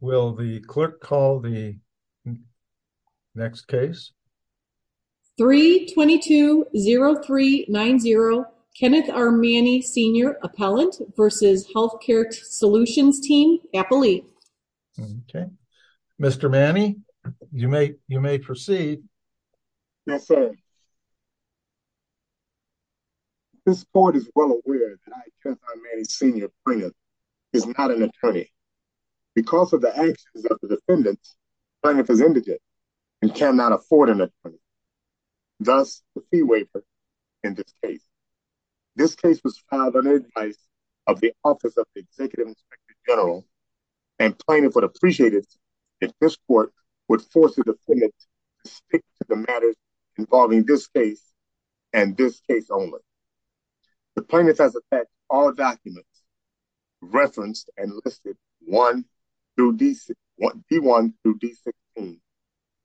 Will the clerk call the next case? 3-22-0390 Kenneth R. Manny Sr. Appellant versus Health Care Solutions Team Appellee. Okay, Mr. Manny, you may proceed. Yes, sir. This court is well aware that I, Kenneth R. Manny Sr. Plaintiff is not an attorney. Because of the actions of the defendants, plaintiff is indigent and cannot afford an attorney. Thus, the fee waiver in this case. This case was filed under the advice of the Office of the Executive Inspector General and plaintiff would appreciate it if this court would force the matters involving this case and this case only. The plaintiff has attached all documents referenced and listed, D-1 through D-16,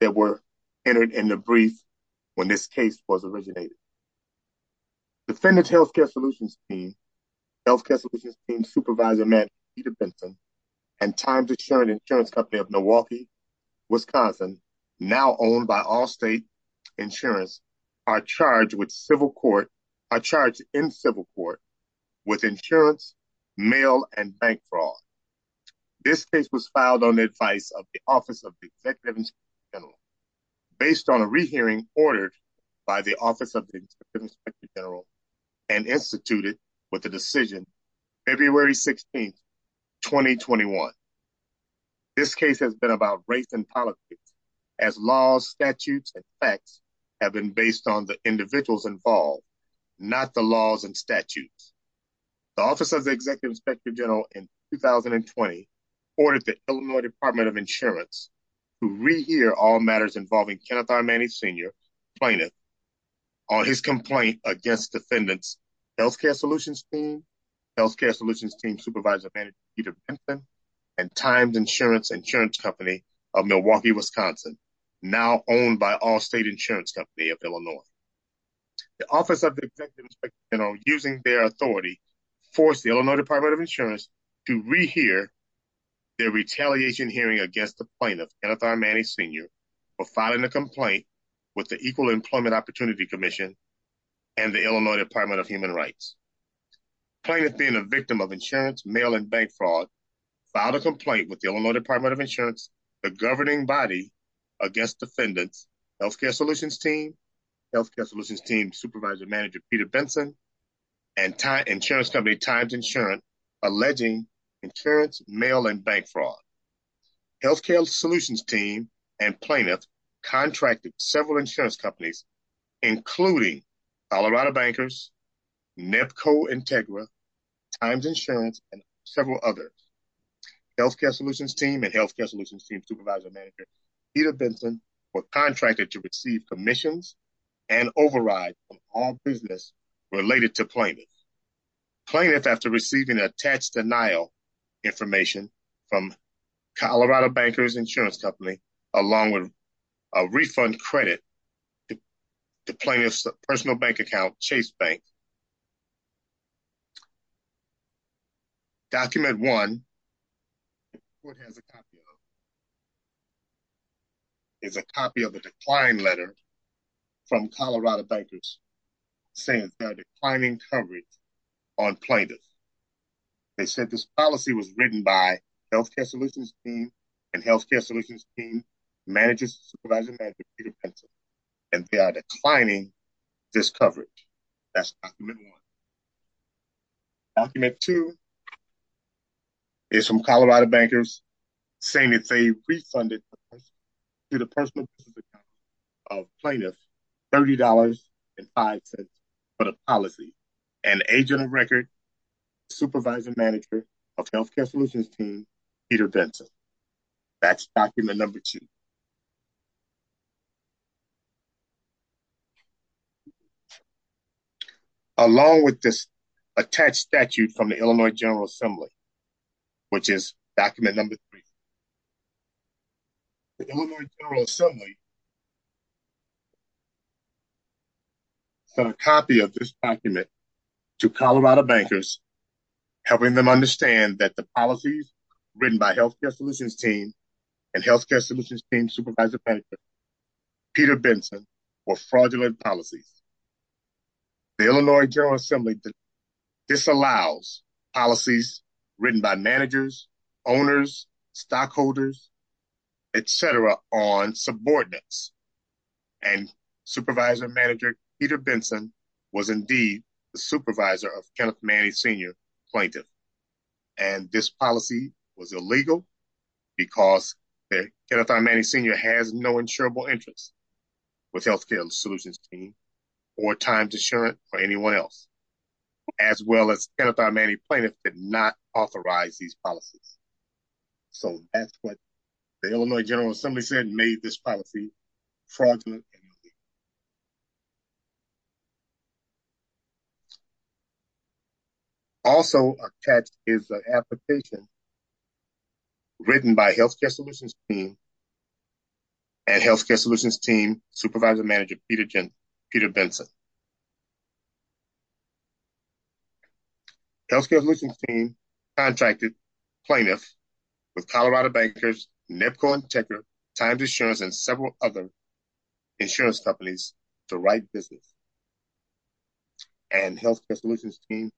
that were entered in the brief when this case was originated. Defendant's Health Care Solutions Team, Health Care Solutions Team Supervisor Matt Peter Benson and Times Insurance Company of Milwaukee, Wisconsin, now owned by Allstate, Insurance, are charged in civil court with insurance, mail, and bank fraud. This case was filed on the advice of the Office of the Executive Inspector General based on a re-hearing ordered by the Office of the Executive Inspector General and instituted with the decision February 16, 2021. This case has been about race and politics as laws, statutes, and facts have been based on the individuals involved, not the laws and statutes. The Office of the Executive Inspector General in 2020 ordered the Illinois Department of Insurance to re-hear all matters involving Kenneth R. Manning Sr., plaintiff, on his complaint against defendant's Health Care Solutions Team, Health Care Solutions Team Supervisor Matt Peter Benson and Times Insurance, Insurance Company of Milwaukee, Wisconsin, now owned by Allstate Insurance Company of Illinois. The Office of the Executive Inspector General, using their authority, forced the Illinois Department of Insurance to re-hear their retaliation hearing against the plaintiff, Kenneth R. Manning Sr., for filing a complaint with the Equal Employment Opportunity Commission and the Illinois Department of Human Rights. Plaintiff being a victim of insurance, mail, and bank fraud, filed a complaint with the Illinois Department of Insurance, the governing body against defendant's Health Care Solutions Team, Health Care Solutions Team Supervisor Manager Peter Benson, and Insurance Company Times Insurance, alleging insurance, mail, and bank fraud. Health Care Solutions Team and plaintiff contracted several insurance companies, including Colorado Bankers, NEPCO Integra, Times Insurance, and several others. Health Care Solutions Team and Health Care Solutions Team Supervisor Manager Peter Benson were contracted to receive commissions and overrides from all business related to plaintiff. Plaintiff, after receiving attached denial information from Colorado Bankers Insurance along with a refund credit to plaintiff's personal bank account, Chase Bank. Document 1 is a copy of a decline letter from Colorado Bankers saying they're declining coverage on plaintiff. They said this policy was written by Health Care Solutions Team and Health Care Solutions Team Manager Supervisor Manager Peter Benson and they are declining this coverage. That's document 1. Document 2 is from Colorado Bankers saying it's a refunded to the personal business account of plaintiff $30.05 for the policy and agent of record Supervisor Manager of Health Care Solutions Team Peter Benson. That's document number 2. Along with this attached statute from the Illinois General Assembly, which is document number 3. The Illinois General Assembly sent a copy of this document to Colorado Bankers helping them understand that the policies written by Health Care Solutions Team and Health Care Solutions Team Supervisor Manager Peter Benson were fraudulent policies. The Illinois General Assembly disallows policies written by managers, owners, stockholders, etc. on subordinates and Supervisor Manager Peter Benson was indeed the supervisor of Kenneth Manny Sr. Plaintiff and this policy was illegal because Kenneth R. Manny Sr. has no insurable interest with Health Care Solutions Team or Times Insurance for anyone else as well as Kenneth R. Manny Plaintiff did not authorize these policies. So that's what the Illinois General Assembly said made this policy fraudulent. Also attached is the application written by Health Care Solutions Team and Health Care Solutions Team Supervisor Manager Peter Benson. Health Care Solutions Team contracted plaintiffs with Colorado Bankers, NEPCO, and TECRA, Times Insurance, and several other insurance companies to write business. And Health Care Solutions Team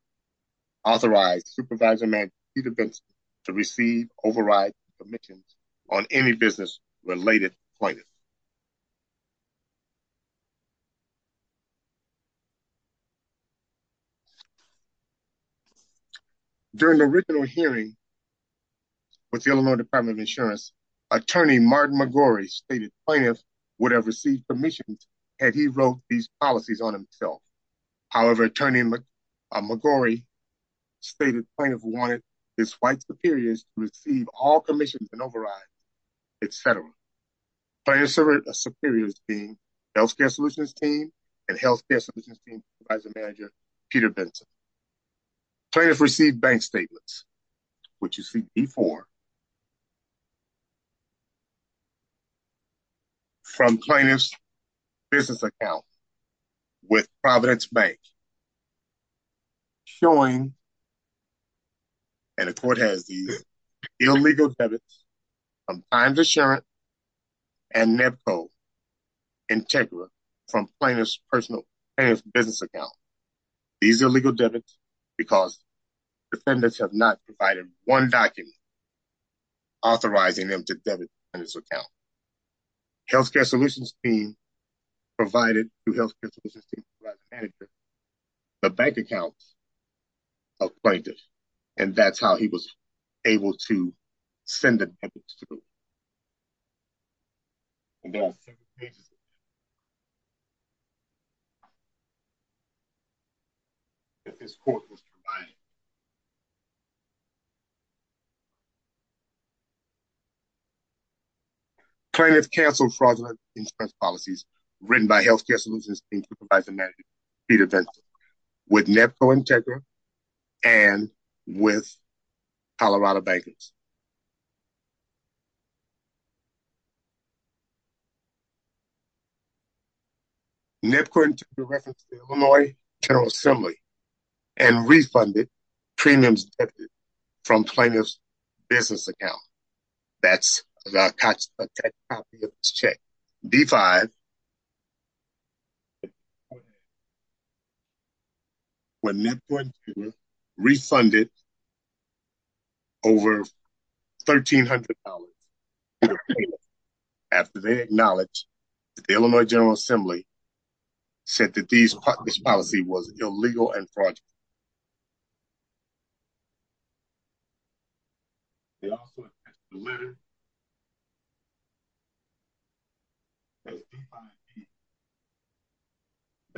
authorized Supervisor Manager Peter Benson to receive override permissions on any business related plaintiffs. During the original hearing with the Illinois Department of Insurance, Attorney Martin McGorry stated plaintiffs would have received permissions had he wrote these policies on himself. However, Attorney McGorry stated plaintiffs wanted his white superiors receive all commissions and override, etc. Plaintiff's superiors being Health Care Solutions Team and Health Care Solutions Team Supervisor Manager Peter Benson. Plaintiffs received bank statements which you see before from plaintiff's business account with Providence Bank showing and the court has these illegal debits from Times Insurance and NEPCO and TECRA from plaintiff's personal business account. These illegal debits because defendants have not provided one document authorizing them to debit on this account. Health Care Solutions Team provided to Health Care Appointment and that's how he was able to send the debits. Plaintiff canceled fraudulent insurance policies written by Health Care Solutions Team Supervisor Peter Benson with NEPCO and TECRA and with Colorado Bankers. NEPCO and TECRA referenced the Illinois General Assembly and refunded premiums from plaintiff's business account. That's the copy of this check. D-5 when NEPCO and TECRA refunded over $1,300 after they acknowledged that the Illinois General Assembly said that this policy was illegal and fraudulent. It also has the letter that's D-5-C document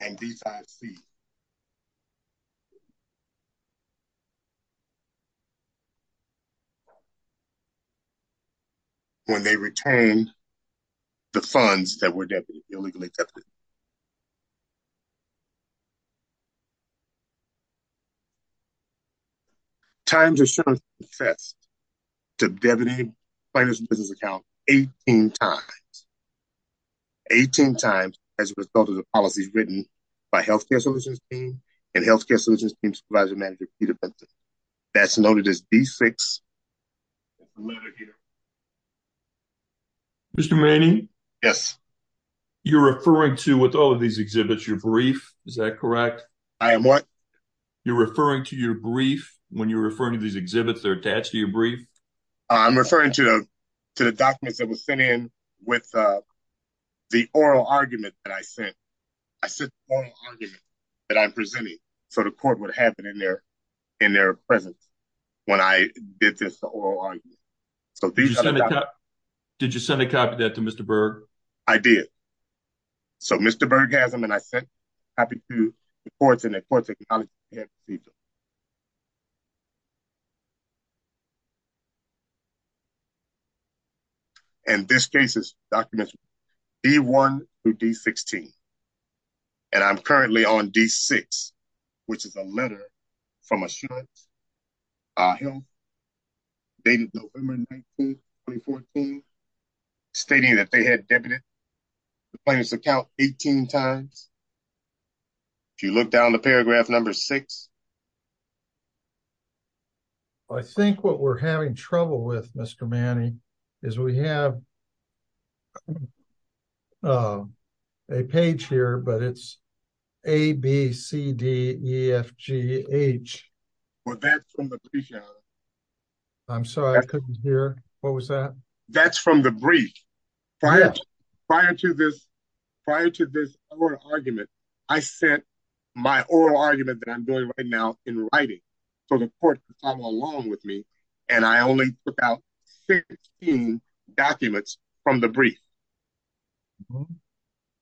and D-5-C when they returned the funds that were debited, illegally debited. Times of insurance confessed to debiting plaintiff's business account 18 times. 18 times as a result of the policies written by Health Care Solutions Team and Health Care Solutions Team Supervisor Manager Peter Benson. That's noted as D-6. Mr. Manning? Yes. You're referring to with all of these exhibits, you're brief, is that correct? I am what? You're referring to your brief when you're referring to these exhibits that are attached to your brief? I'm referring to the documents that were sent in with the oral argument that I sent. I sent the oral argument that I'm presenting so the court would have it in their presence when I did this oral argument. Did you send a copy of that to Mr. Berg? I did. So Mr. Berg has them and I sent a copy to the courts and the courts acknowledged the procedure. And this case is documents D-1 through D-16 and I'm currently on D-6 which is a letter from Assurance Health dated November 19, 2014 stating that they had debited the plaintiff's account 18 times. If you look down to paragraph number six. I think what we're having trouble with, Mr. Manning, is we have a page here but it's A-B-C-D-E-F-G-H. That's from the brief. I'm sorry, I couldn't hear. What was that? That's from the brief. Prior to this oral argument, I sent my oral argument that I'm doing right now in writing so the court could follow along with me and I only took out 16 documents from the brief.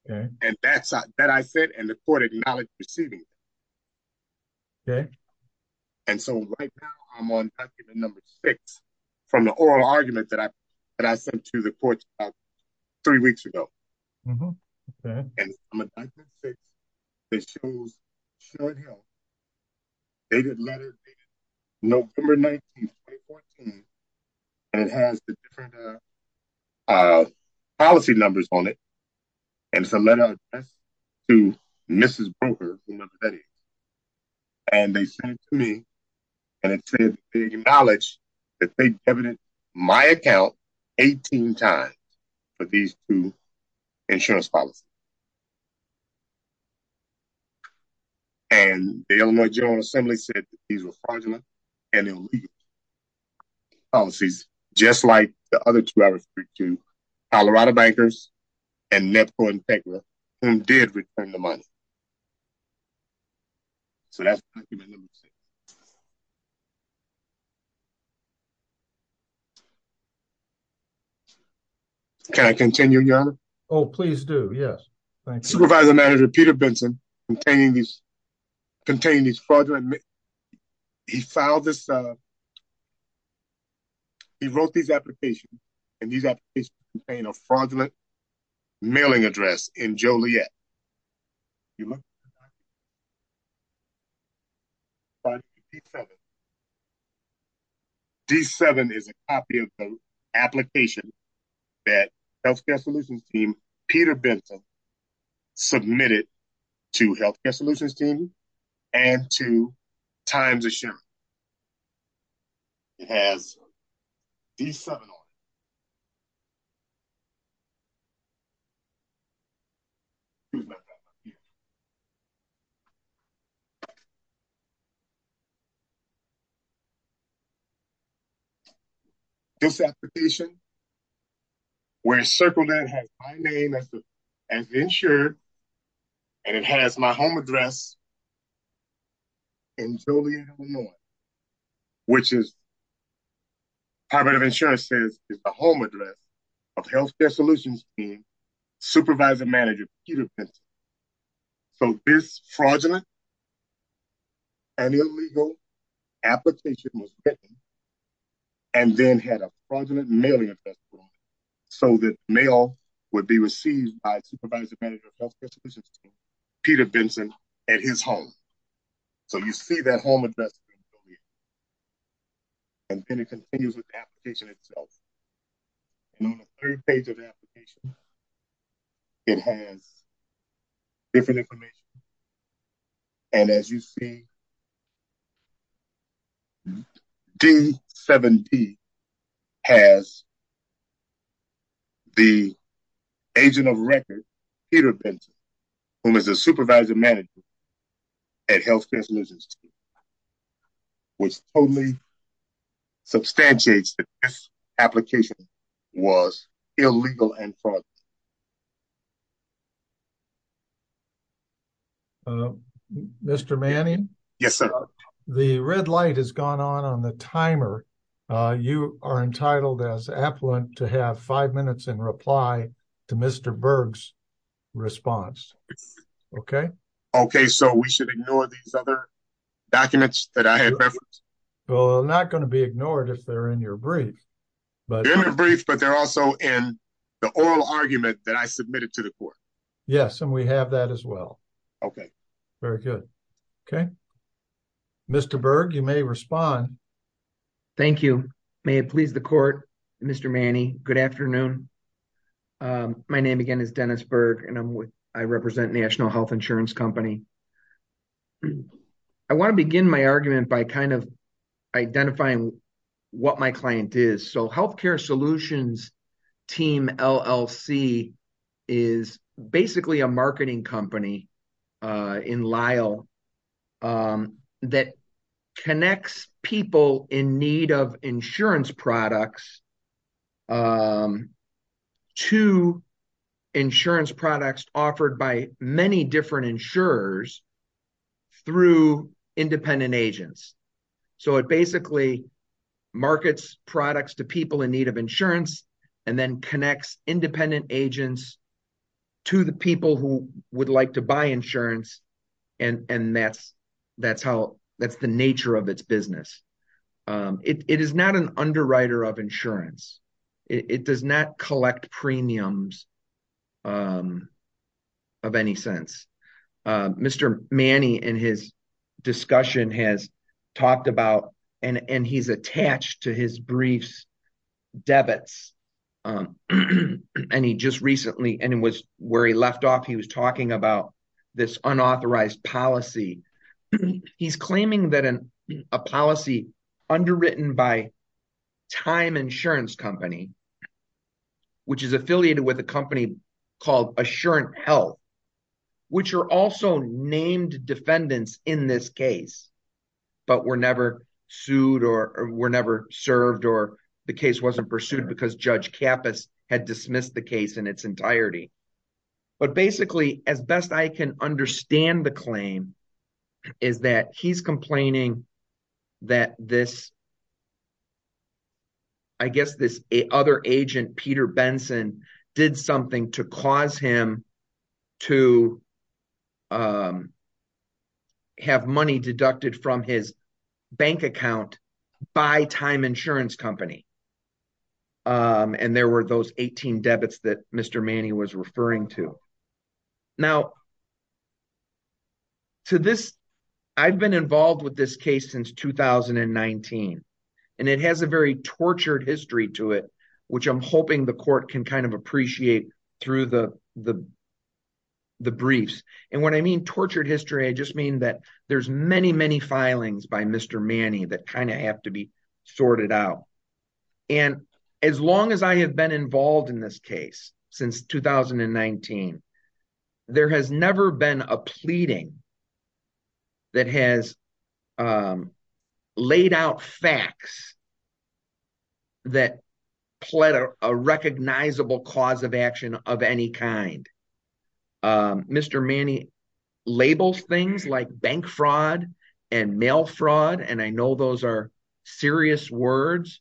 And that I sent and the court acknowledged the procedure. And so right now I'm on document number six from the oral argument that I sent to the courts three weeks ago. And I'm on document six that shows Assurance Health. Dated letter dated November 19, 2014. And it has the different policy numbers on it. And it's a letter addressed to Mrs. Broker from North Betty. And they sent it to me and it said they acknowledge that they debited my account 18 times for these two insurance policies. And the Illinois General Assembly said these were fraudulent and illegal policies just like the other two I referred to, Colorado Bankers and Nepco Integra, who did return the money. So that's document number six. Can I continue, Your Honor? Oh, please do, yes. Supervisor Manager Peter Benson containing these fraudulent, he filed this, he wrote these applications, and these applications contain a fraudulent mailing address in Joliet. D7 is a copy of the application that Healthcare Solutions Team, Peter Benson, submitted to Healthcare Solutions Team and to Times Assurance. It has D7 on it. This application, where it's circled, it has my name as insured, and it has my home address in Joliet, Illinois, which is, Times Assurance says, is the home address of Healthcare Solutions Team, Supervisor Manager Peter Benson. So this fraudulent and illegal application was written and then had a fraudulent mailing address, so that mail would be received by Supervisor Manager of Healthcare Solutions Team, Peter Benson, at his home. So you see that home address in Joliet. And then it continues with the application itself. And on the third page of the application, it has different information. And as you see, D7D has the agent of record, Peter Benson, who is the Supervisor Manager at Healthcare Solutions Team. Which totally substantiates that this application was illegal and fraudulent. Mr. Manning? Yes, sir. The red light has gone on on the timer. You are entitled as affluent to have five minutes in reply to Mr. Berg's response. Okay. Okay, so we should ignore these other documents that I had referenced? Well, they're not going to be ignored if they're in your brief. They're in the brief, but they're also in the oral argument that I submitted to the court. Yes, and we have that as well. Okay. Very good. Okay. Mr. Berg, you may respond. Thank you. May it please the court, Mr. Manning, good afternoon. My name again is Dennis Berg, and I represent National Health Insurance Company. I want to begin my argument by kind of identifying what my client is. So Healthcare Solutions Team LLC is basically a marketing company in Lyle that connects people in need of insurance products to insurance products offered by many different insurers through independent agents. So it basically markets products to people in need of insurance, and then connects independent agents to the people who would like to buy insurance. And that's the nature of its business. It is not an underwriter of insurance. It does not collect premiums of any sense. Mr. Manning in his discussion has talked about, and he's attached to his briefs, debits. And he just recently, and it was where he left off, he was talking about this unauthorized policy. He's claiming that a policy underwritten by Time Insurance Company, which is affiliated with a company called Assurance Health, which are also named defendants in this case, but were never sued or were never served or the case wasn't pursued because Judge Kappas had dismissed the case in its entirety. But basically, as best I can understand the claim, is that he's complaining that this, I guess this other agent, Peter Benson, did something to cause him to have money deducted from his bank account by Time Insurance Company. And there were those 18 debits that Mr. Manning was referring to. Now, to this, I've been involved with this case since 2019. And it has a very tortured history to it, which I'm hoping the court can kind of appreciate through the briefs. And when I mean tortured history, I just mean that there's many, many filings by Mr. Manning that kind of have to be sorted out. And as long as I have been involved in this case, since 2019, there has not been a pleading that has laid out facts that pled a recognizable cause of action of any kind. Mr. Manning labels things like bank fraud and mail fraud. And I know those are serious words,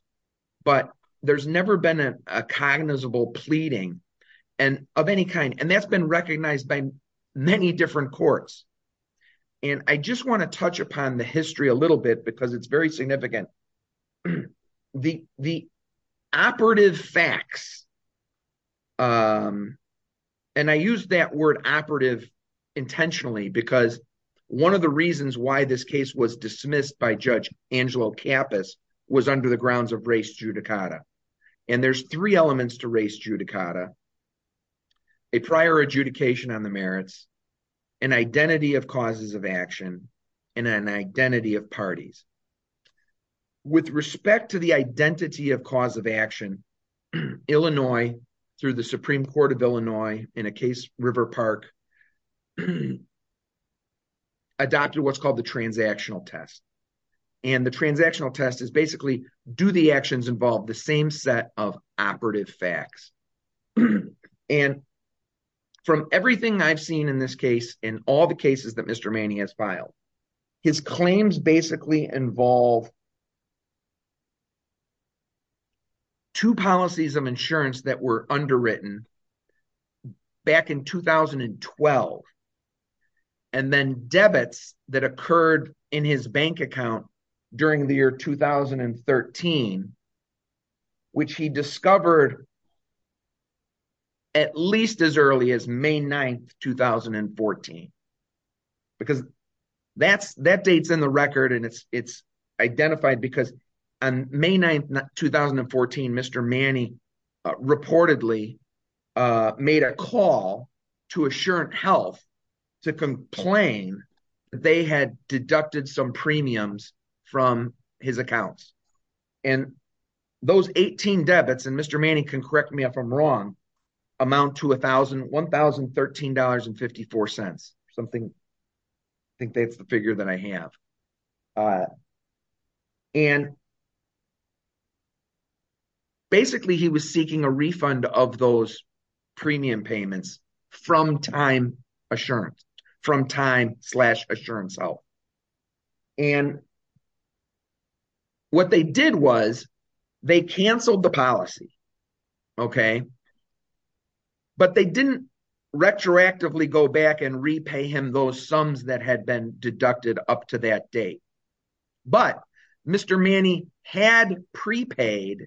but there's never been a cognizable pleading of any kind. And that's been recognized by many different courts. And I just want to touch upon the history a little bit, because it's very significant. The operative facts, and I use that word operative intentionally, because one of the reasons why this case was dismissed by Judge Angelo Kappas was under the grounds of race judicata. And there's three elements to race judicata, a prior adjudication on the merits, an identity of causes of action, and an identity of parties. With respect to the identity of cause of action, Illinois, through the Supreme Court of Illinois, in a case River Park, adopted what's called the transactional test. And the transactional test is basically, do the actions involve the same set of operative facts? And from everything I've seen in this case, in all the cases that Mr. Manning has filed, his claims basically involve two policies of insurance that were underwritten back in 2012. And then in 2013, which he discovered at least as early as May 9, 2014. Because that date's in the record, and it's identified because on May 9, 2014, Mr. Manning reportedly made a call to Assurance Health to complain that they had deducted some premiums from his accounts. And those 18 debits, and Mr. Manning can correct me if I'm wrong, amount to $1,013.54. Something, I think that's the figure that I have. And basically, he was seeking a refund of those premium payments from time Assurance, from time slash Assurance Health. And what they did was, they canceled the policy. Okay. But they didn't retroactively go back and repay him those sums that had been deducted up to that date. But Mr. Manning had prepaid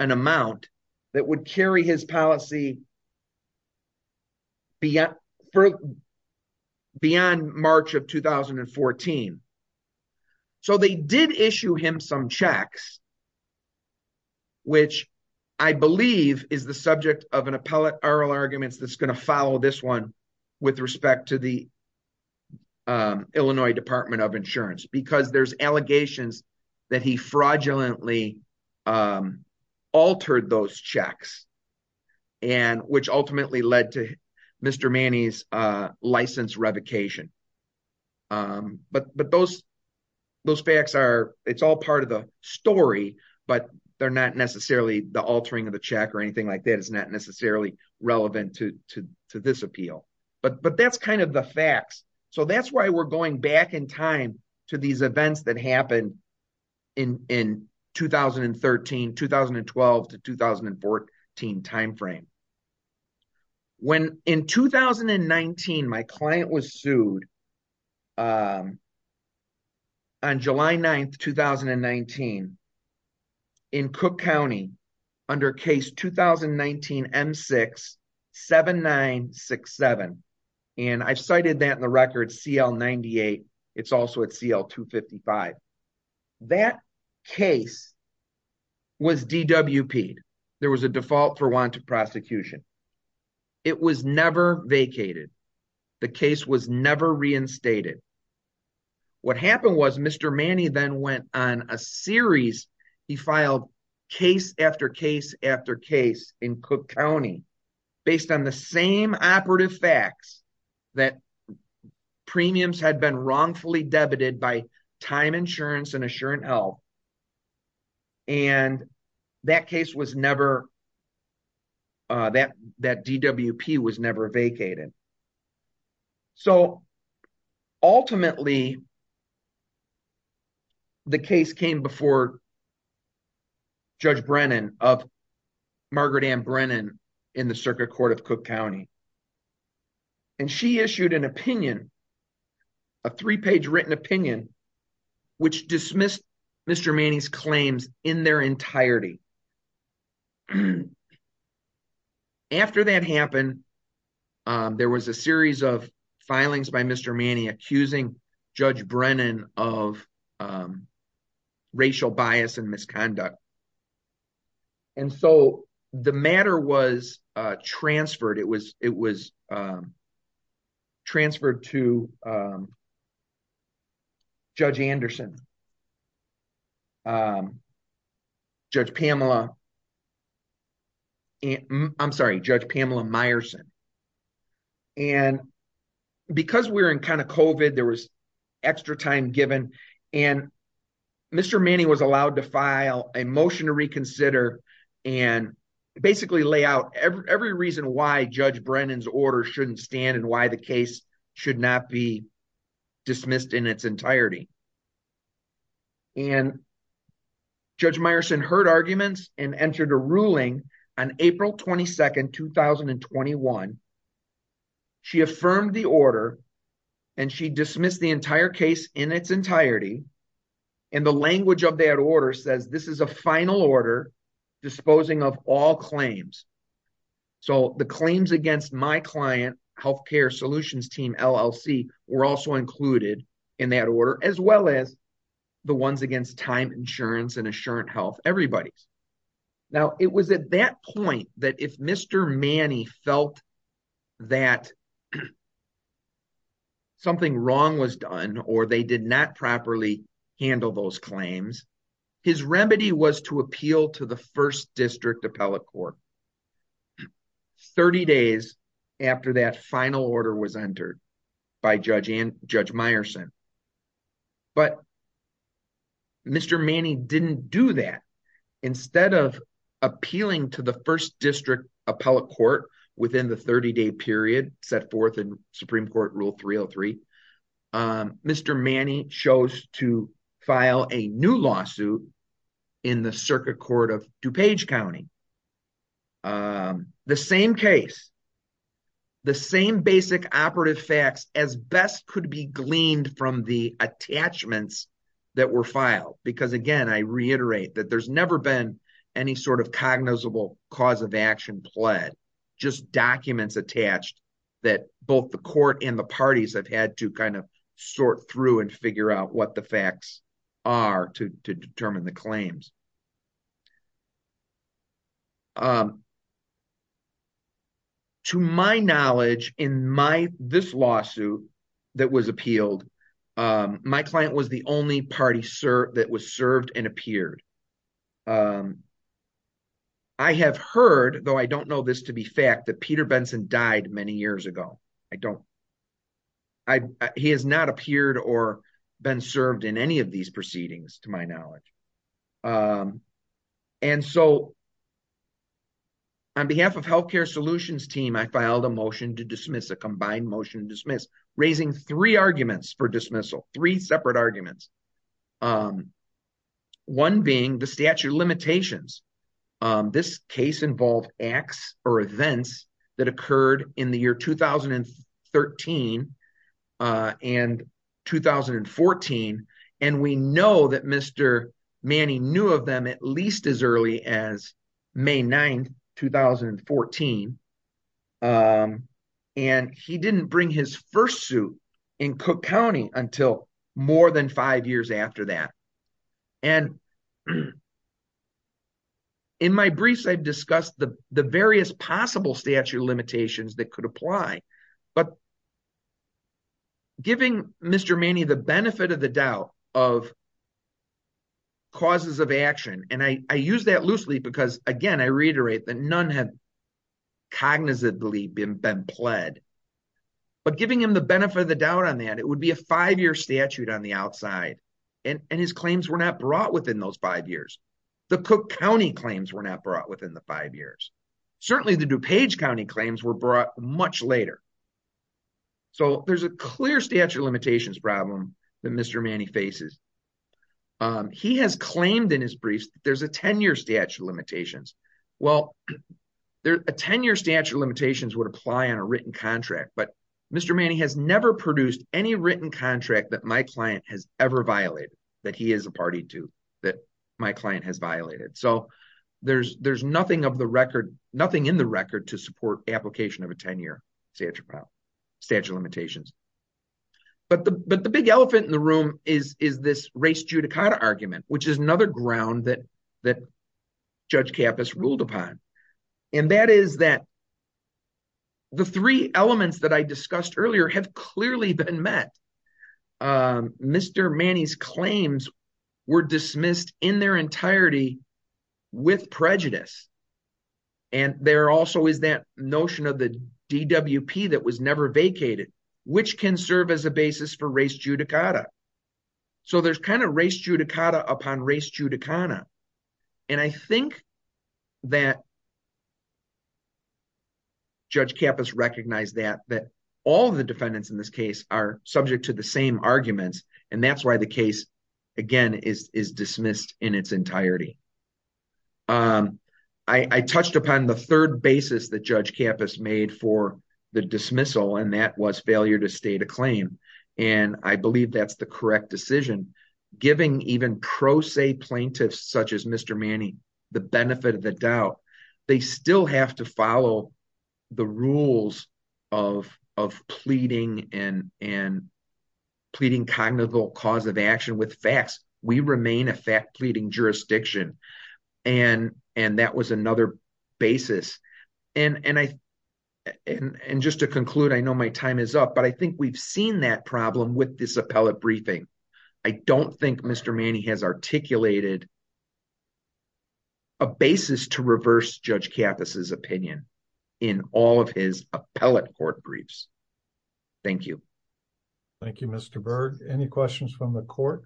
an amount that would carry his policy beyond March of 2014. So they did issue him some checks, which I believe is the subject of an appellate oral arguments that's going to follow this one with respect to the Illinois Department of Insurance. Because there's allegations that he fraudulently altered those checks, and which ultimately led to Mr. Manning's license revocation. But those facts are, it's all part of the story, but they're not necessarily the altering of the check or anything like that. It's not necessarily relevant to this appeal. But that's kind of the facts. So that's why we're going back in time to these events that happened in 2013, 2012 to 2014 timeframe. When in 2019, my client was sued on July 9th, 2019 in Cook County under case 2019 M67967. And I've cited that in the record CL98. It's also at CL255. That case was DWP'd. There was a default for want of prosecution. It was never vacated. The case was never reinstated. What happened was Mr. Manning then went on a series, he filed case after case after case in Cook County, based on the same operative facts that premiums had been wrongfully debited by the DWP. That DWP was never vacated. So ultimately, the case came before Judge Brennan of Margaret M. Brennan in the circuit court of Cook County. And she issued an opinion, a three-page written opinion, which dismissed Mr. Manning's claims in their entirety. After that happened, there was a series of filings by Mr. Manning accusing Judge Brennan of racial bias and misconduct. And so the matter was transferred. It was transferred to Judge Anderson, Judge Pamela, I'm sorry, Judge Pamela Meyerson. And because we're in kind of COVID, there was extra time given. And Mr. Manning was allowed to file a motion to reconsider and basically lay out every reason why Judge Brennan's order shouldn't stand and why the case should not be dismissed in its entirety. And Judge Meyerson heard arguments and entered a ruling on April 22nd, 2021. She affirmed the order and she dismissed the entire case in its entirety. And the language of that order says, this is a final order disposing of all claims. So the claims against my client, healthcare solutions team, LLC, were also included in that order, as well as the ones against time insurance and Assurance Health, everybody's. Now, it was at that point that if Mr. Manning felt that something wrong was done or they did not properly handle those claims, his remedy was to appeal to the first district appellate court. 30 days after that final order was entered by Judge Meyerson. But Mr. Manning didn't do that. Instead of appealing to the first district appellate court within the 30 day period, set forth in Supreme Court Rule 303, Mr. Manning chose to file a new lawsuit in the circuit court of DuPage County. The same case, the same basic operative facts as best could be gleaned from the attachments that were filed. Because again, I reiterate that there's never been any sort of cognizable cause of action pled, just documents attached that both the court and the claims. To my knowledge, in this lawsuit that was appealed, my client was the only party that was served and appeared. I have heard, though I don't know this to be fact, that Peter Benson died many years ago. He has not appeared or been served in any of these proceedings, to my knowledge. And so, on behalf of Healthcare Solutions team, I filed a motion to dismiss, a combined motion to dismiss, raising three arguments for dismissal, three separate arguments. One being the statute of limitations. This case involved acts or events that occurred in the year 2013 and 2014. And we know that Mr. Manning knew of them at least as early as May 9, 2014. And he didn't bring his first suit in Cook County until more than five years after that. And in my briefs, I've discussed the various possible statute of limitations that could apply. But giving Mr. Manning the benefit of the doubt of causes of action, and I use that loosely because, again, I reiterate that none had cognizantly been pled. But giving him the benefit of the doubt on that, it would be a five-year statute on the outside. And his claims were not brought within those five years. The Cook County claims were not brought within the five years. Certainly, the DuPage County claims were brought much later. So there's a clear statute of limitations problem that Mr. Manning faces. He has claimed in his briefs, there's a 10-year statute of limitations. Well, a 10-year statute of limitations would apply on a written contract, but Mr. Manning has never produced any written contract that my client has ever violated, that he is a party to, that my client has violated. So there's nothing of the record, nothing in the record to support application of a 10-year statute of limitations. But the big elephant in the room is this race judicata argument, which is another ground that Judge Kappas ruled upon. And that is that the three elements that I discussed earlier have clearly been met. Mr. Manning's claims were dismissed in their entirety with prejudice. And there also is that notion of the DWP that was never vacated, which can serve as a basis for race judicata. So there's kind of race judicata upon race judicata. And I think that Judge Kappas recognized that, that all of the defendants in this case are subject to the same arguments. And that's why the case, again, is dismissed in its entirety. I touched upon the third basis that Judge Kappas made for the dismissal, and that was failure to state a claim. And I believe that's the correct decision. Giving even pro se plaintiffs, such as Mr. Manning, the benefit of the doubt, they still have to follow the rules of pleading and pleading cognitive cause of action with facts. We remain a fact pleading jurisdiction. And that was another basis. And just to conclude, I know my time is up, but I think we've seen that problem with this appellate briefing. I don't think Mr. Manning has articulated a basis to reverse Judge Kappas' opinion in all of his appellate court briefs. Thank you. Thank you, Mr. Byrd. Any questions from the court?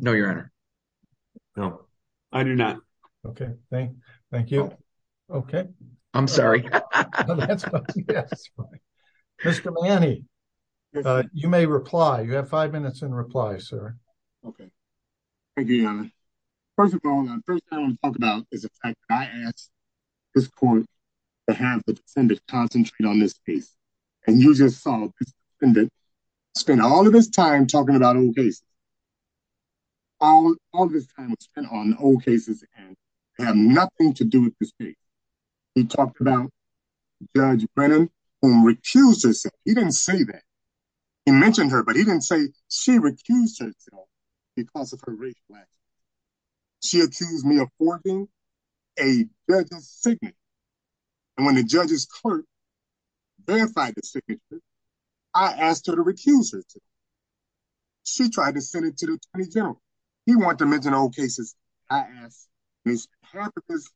No, Your Honor. No, I do not. Okay. Thank you. Okay. I'm sorry. No, that's fine. Mr. Manning, you may reply. You have five minutes in reply, sir. Okay. Thank you, Your Honor. First of all, the first thing I want to talk about is the fact that I asked this court to have the defendant concentrate on this case. And you just saw this defendant spend all of his time talking about old cases. All of his time was spent on old cases, and had nothing to do with this case. He talked about Judge Brennan, who recused herself. He didn't say that. He mentioned her, but he didn't say she recused herself because of her race. She accused me of forging a judge's signature. And when the judge's clerk verified the signature, I asked her to recuse herself. She tried to send it to the Attorney General. He wanted to mention old cases. I asked Mr. Hampton's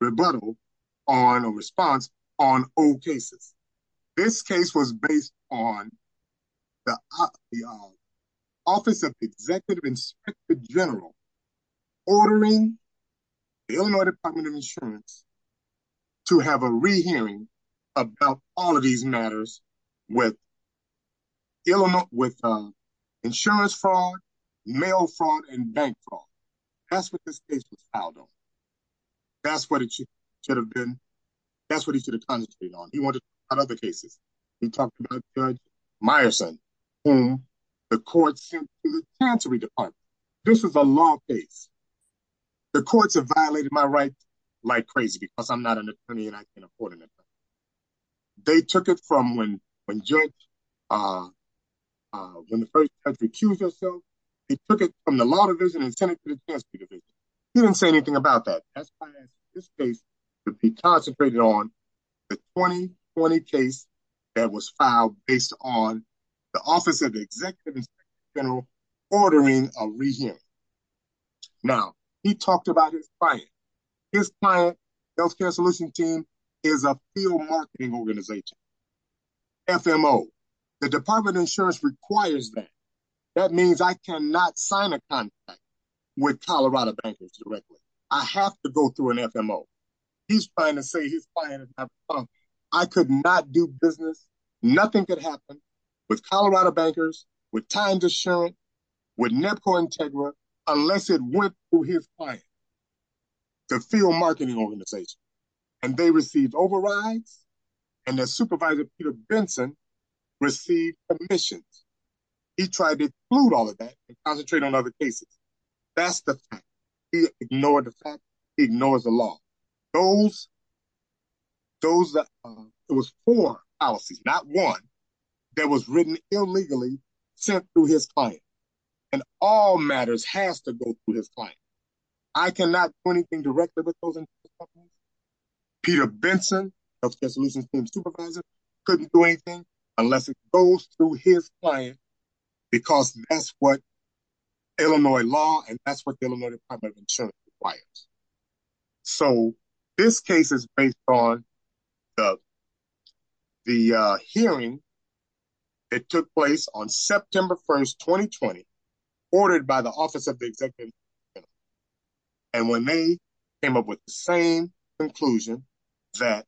rebuttal on a response on old cases. This case was based on the Office of the Executive Inspector General ordering the Illinois Department of Insurance to have a rehearing about all of these matters with insurance fraud, mail fraud, and bank fraud. That's what this case was filed on. That's what it should have been. That's what he should have concentrated on. He wanted to talk about other cases. He talked about Judge Meyerson, whom the court sent to the Tantory Department. This was a long case. The courts have violated my rights like crazy because I'm not an attorney and I can't afford an attorney. They took it from when the first judge recused herself. He took it from the Law Division and sent it to the Justice Division. He didn't say anything about that. That's why I asked this case to be concentrated on the 2020 case that was filed based on the Office of the Executive Inspector General ordering a rehearing. Now, he talked about his client. His client, Healthcare Solution Team, is a field marketing organization, FMO. The Department of Insurance requires that. That means I cannot sign a contract with Colorado bankers directly. I have to go through an FMO. He's trying to say his client is not responsible. I could not do business. Nothing could happen with Colorado bankers, with Times Assurance, with NEPCO Integra, unless it went through his client, the field marketing organization. They received overrides and their supervisor, Peter Benson, received permissions. He tried to exclude all of that and concentrate on other cases. That's the fact. He ignored the fact. He ignores the law. There were four policies, not one, that was written illegally sent through his client. All matters has to go through his client. I cannot do anything directly with those companies. Peter Benson, Healthcare Solutions Team supervisor, couldn't do anything unless it goes through his client because that's what Illinois law and that's what the Illinois Department of Insurance requires. So this case is based on the hearing that took place on September 1st, 2020, ordered by the Office of the Executive Director. And when they came up with the same conclusion that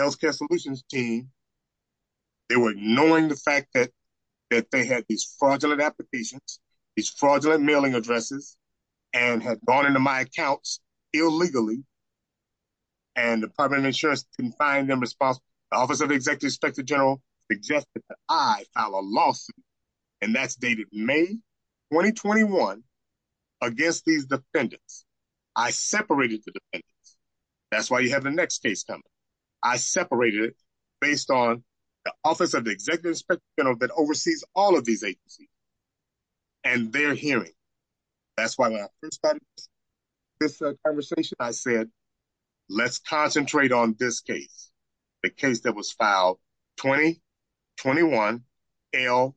Healthcare Solutions Team, they were ignoring the fact that they had these fraudulent applications, these fraudulent mailing addresses, and had gone into my accounts illegally, and the Department of Insurance couldn't find them responsible, the Office of the Executive Inspector General suggested that I file a lawsuit, and that's dated May 2021, against these defendants. I separated the defendants. That's why you have the next case coming. I separated it based on the Office of the Executive Inspector General that oversees all of these agencies and their hearing. That's why when I first started this conversation, I said, let's concentrate on this case, the case that was filed 2021 L001364.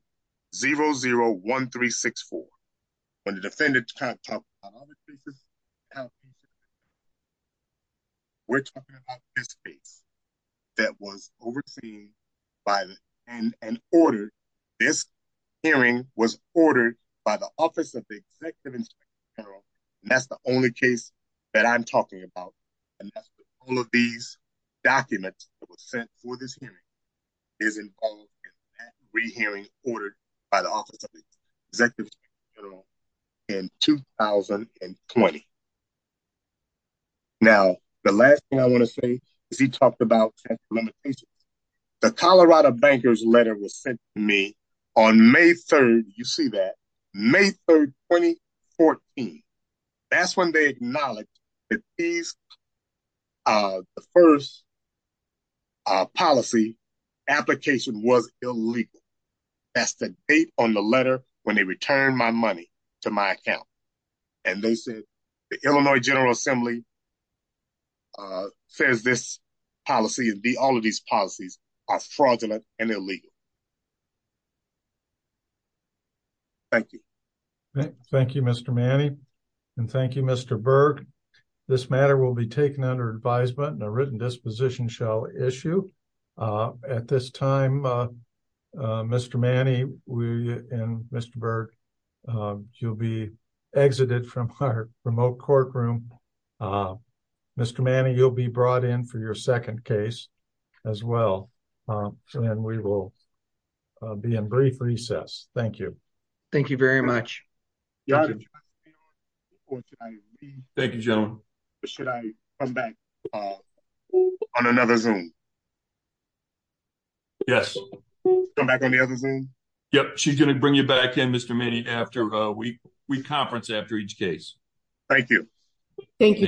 When the defendant talked about other cases, we're talking about this case that was overseen by the, and ordered, this hearing was ordered by the Office of the Executive Inspector General, and that's the only case that I'm talking about, and that's all of these documents that were sent for this hearing is involved in that re-hearing ordered by the Office of the Executive Inspector General in 2020. Now, the last thing I want to say is he talked about technical limitations. The Colorado Bankers' Letter was sent to me on May 3rd, you see that, May 3rd, 2014. That's when they acknowledged that these, the first policy application was illegal. That's the date on the letter when they returned my money to my account, and they said the Illinois General Assembly says this policy, all of these policies are fraudulent and illegal. Thank you. Thank you, Mr. Manning, and thank you, Mr. Berg. This matter will be taken under advisement and a written disposition shall issue. At this time, Mr. Manning and Mr. Berg, you'll be Mr. Manning, you'll be brought in for your second case as well, and we will be in brief recess. Thank you. Thank you very much. Thank you, gentlemen. Should I come back on another Zoom? Yes. Come back on the other Zoom? Yep, she's going to bring you back in, Mr. Manning, after we conference after each case. Thank you. Thank you, Judge Harrell.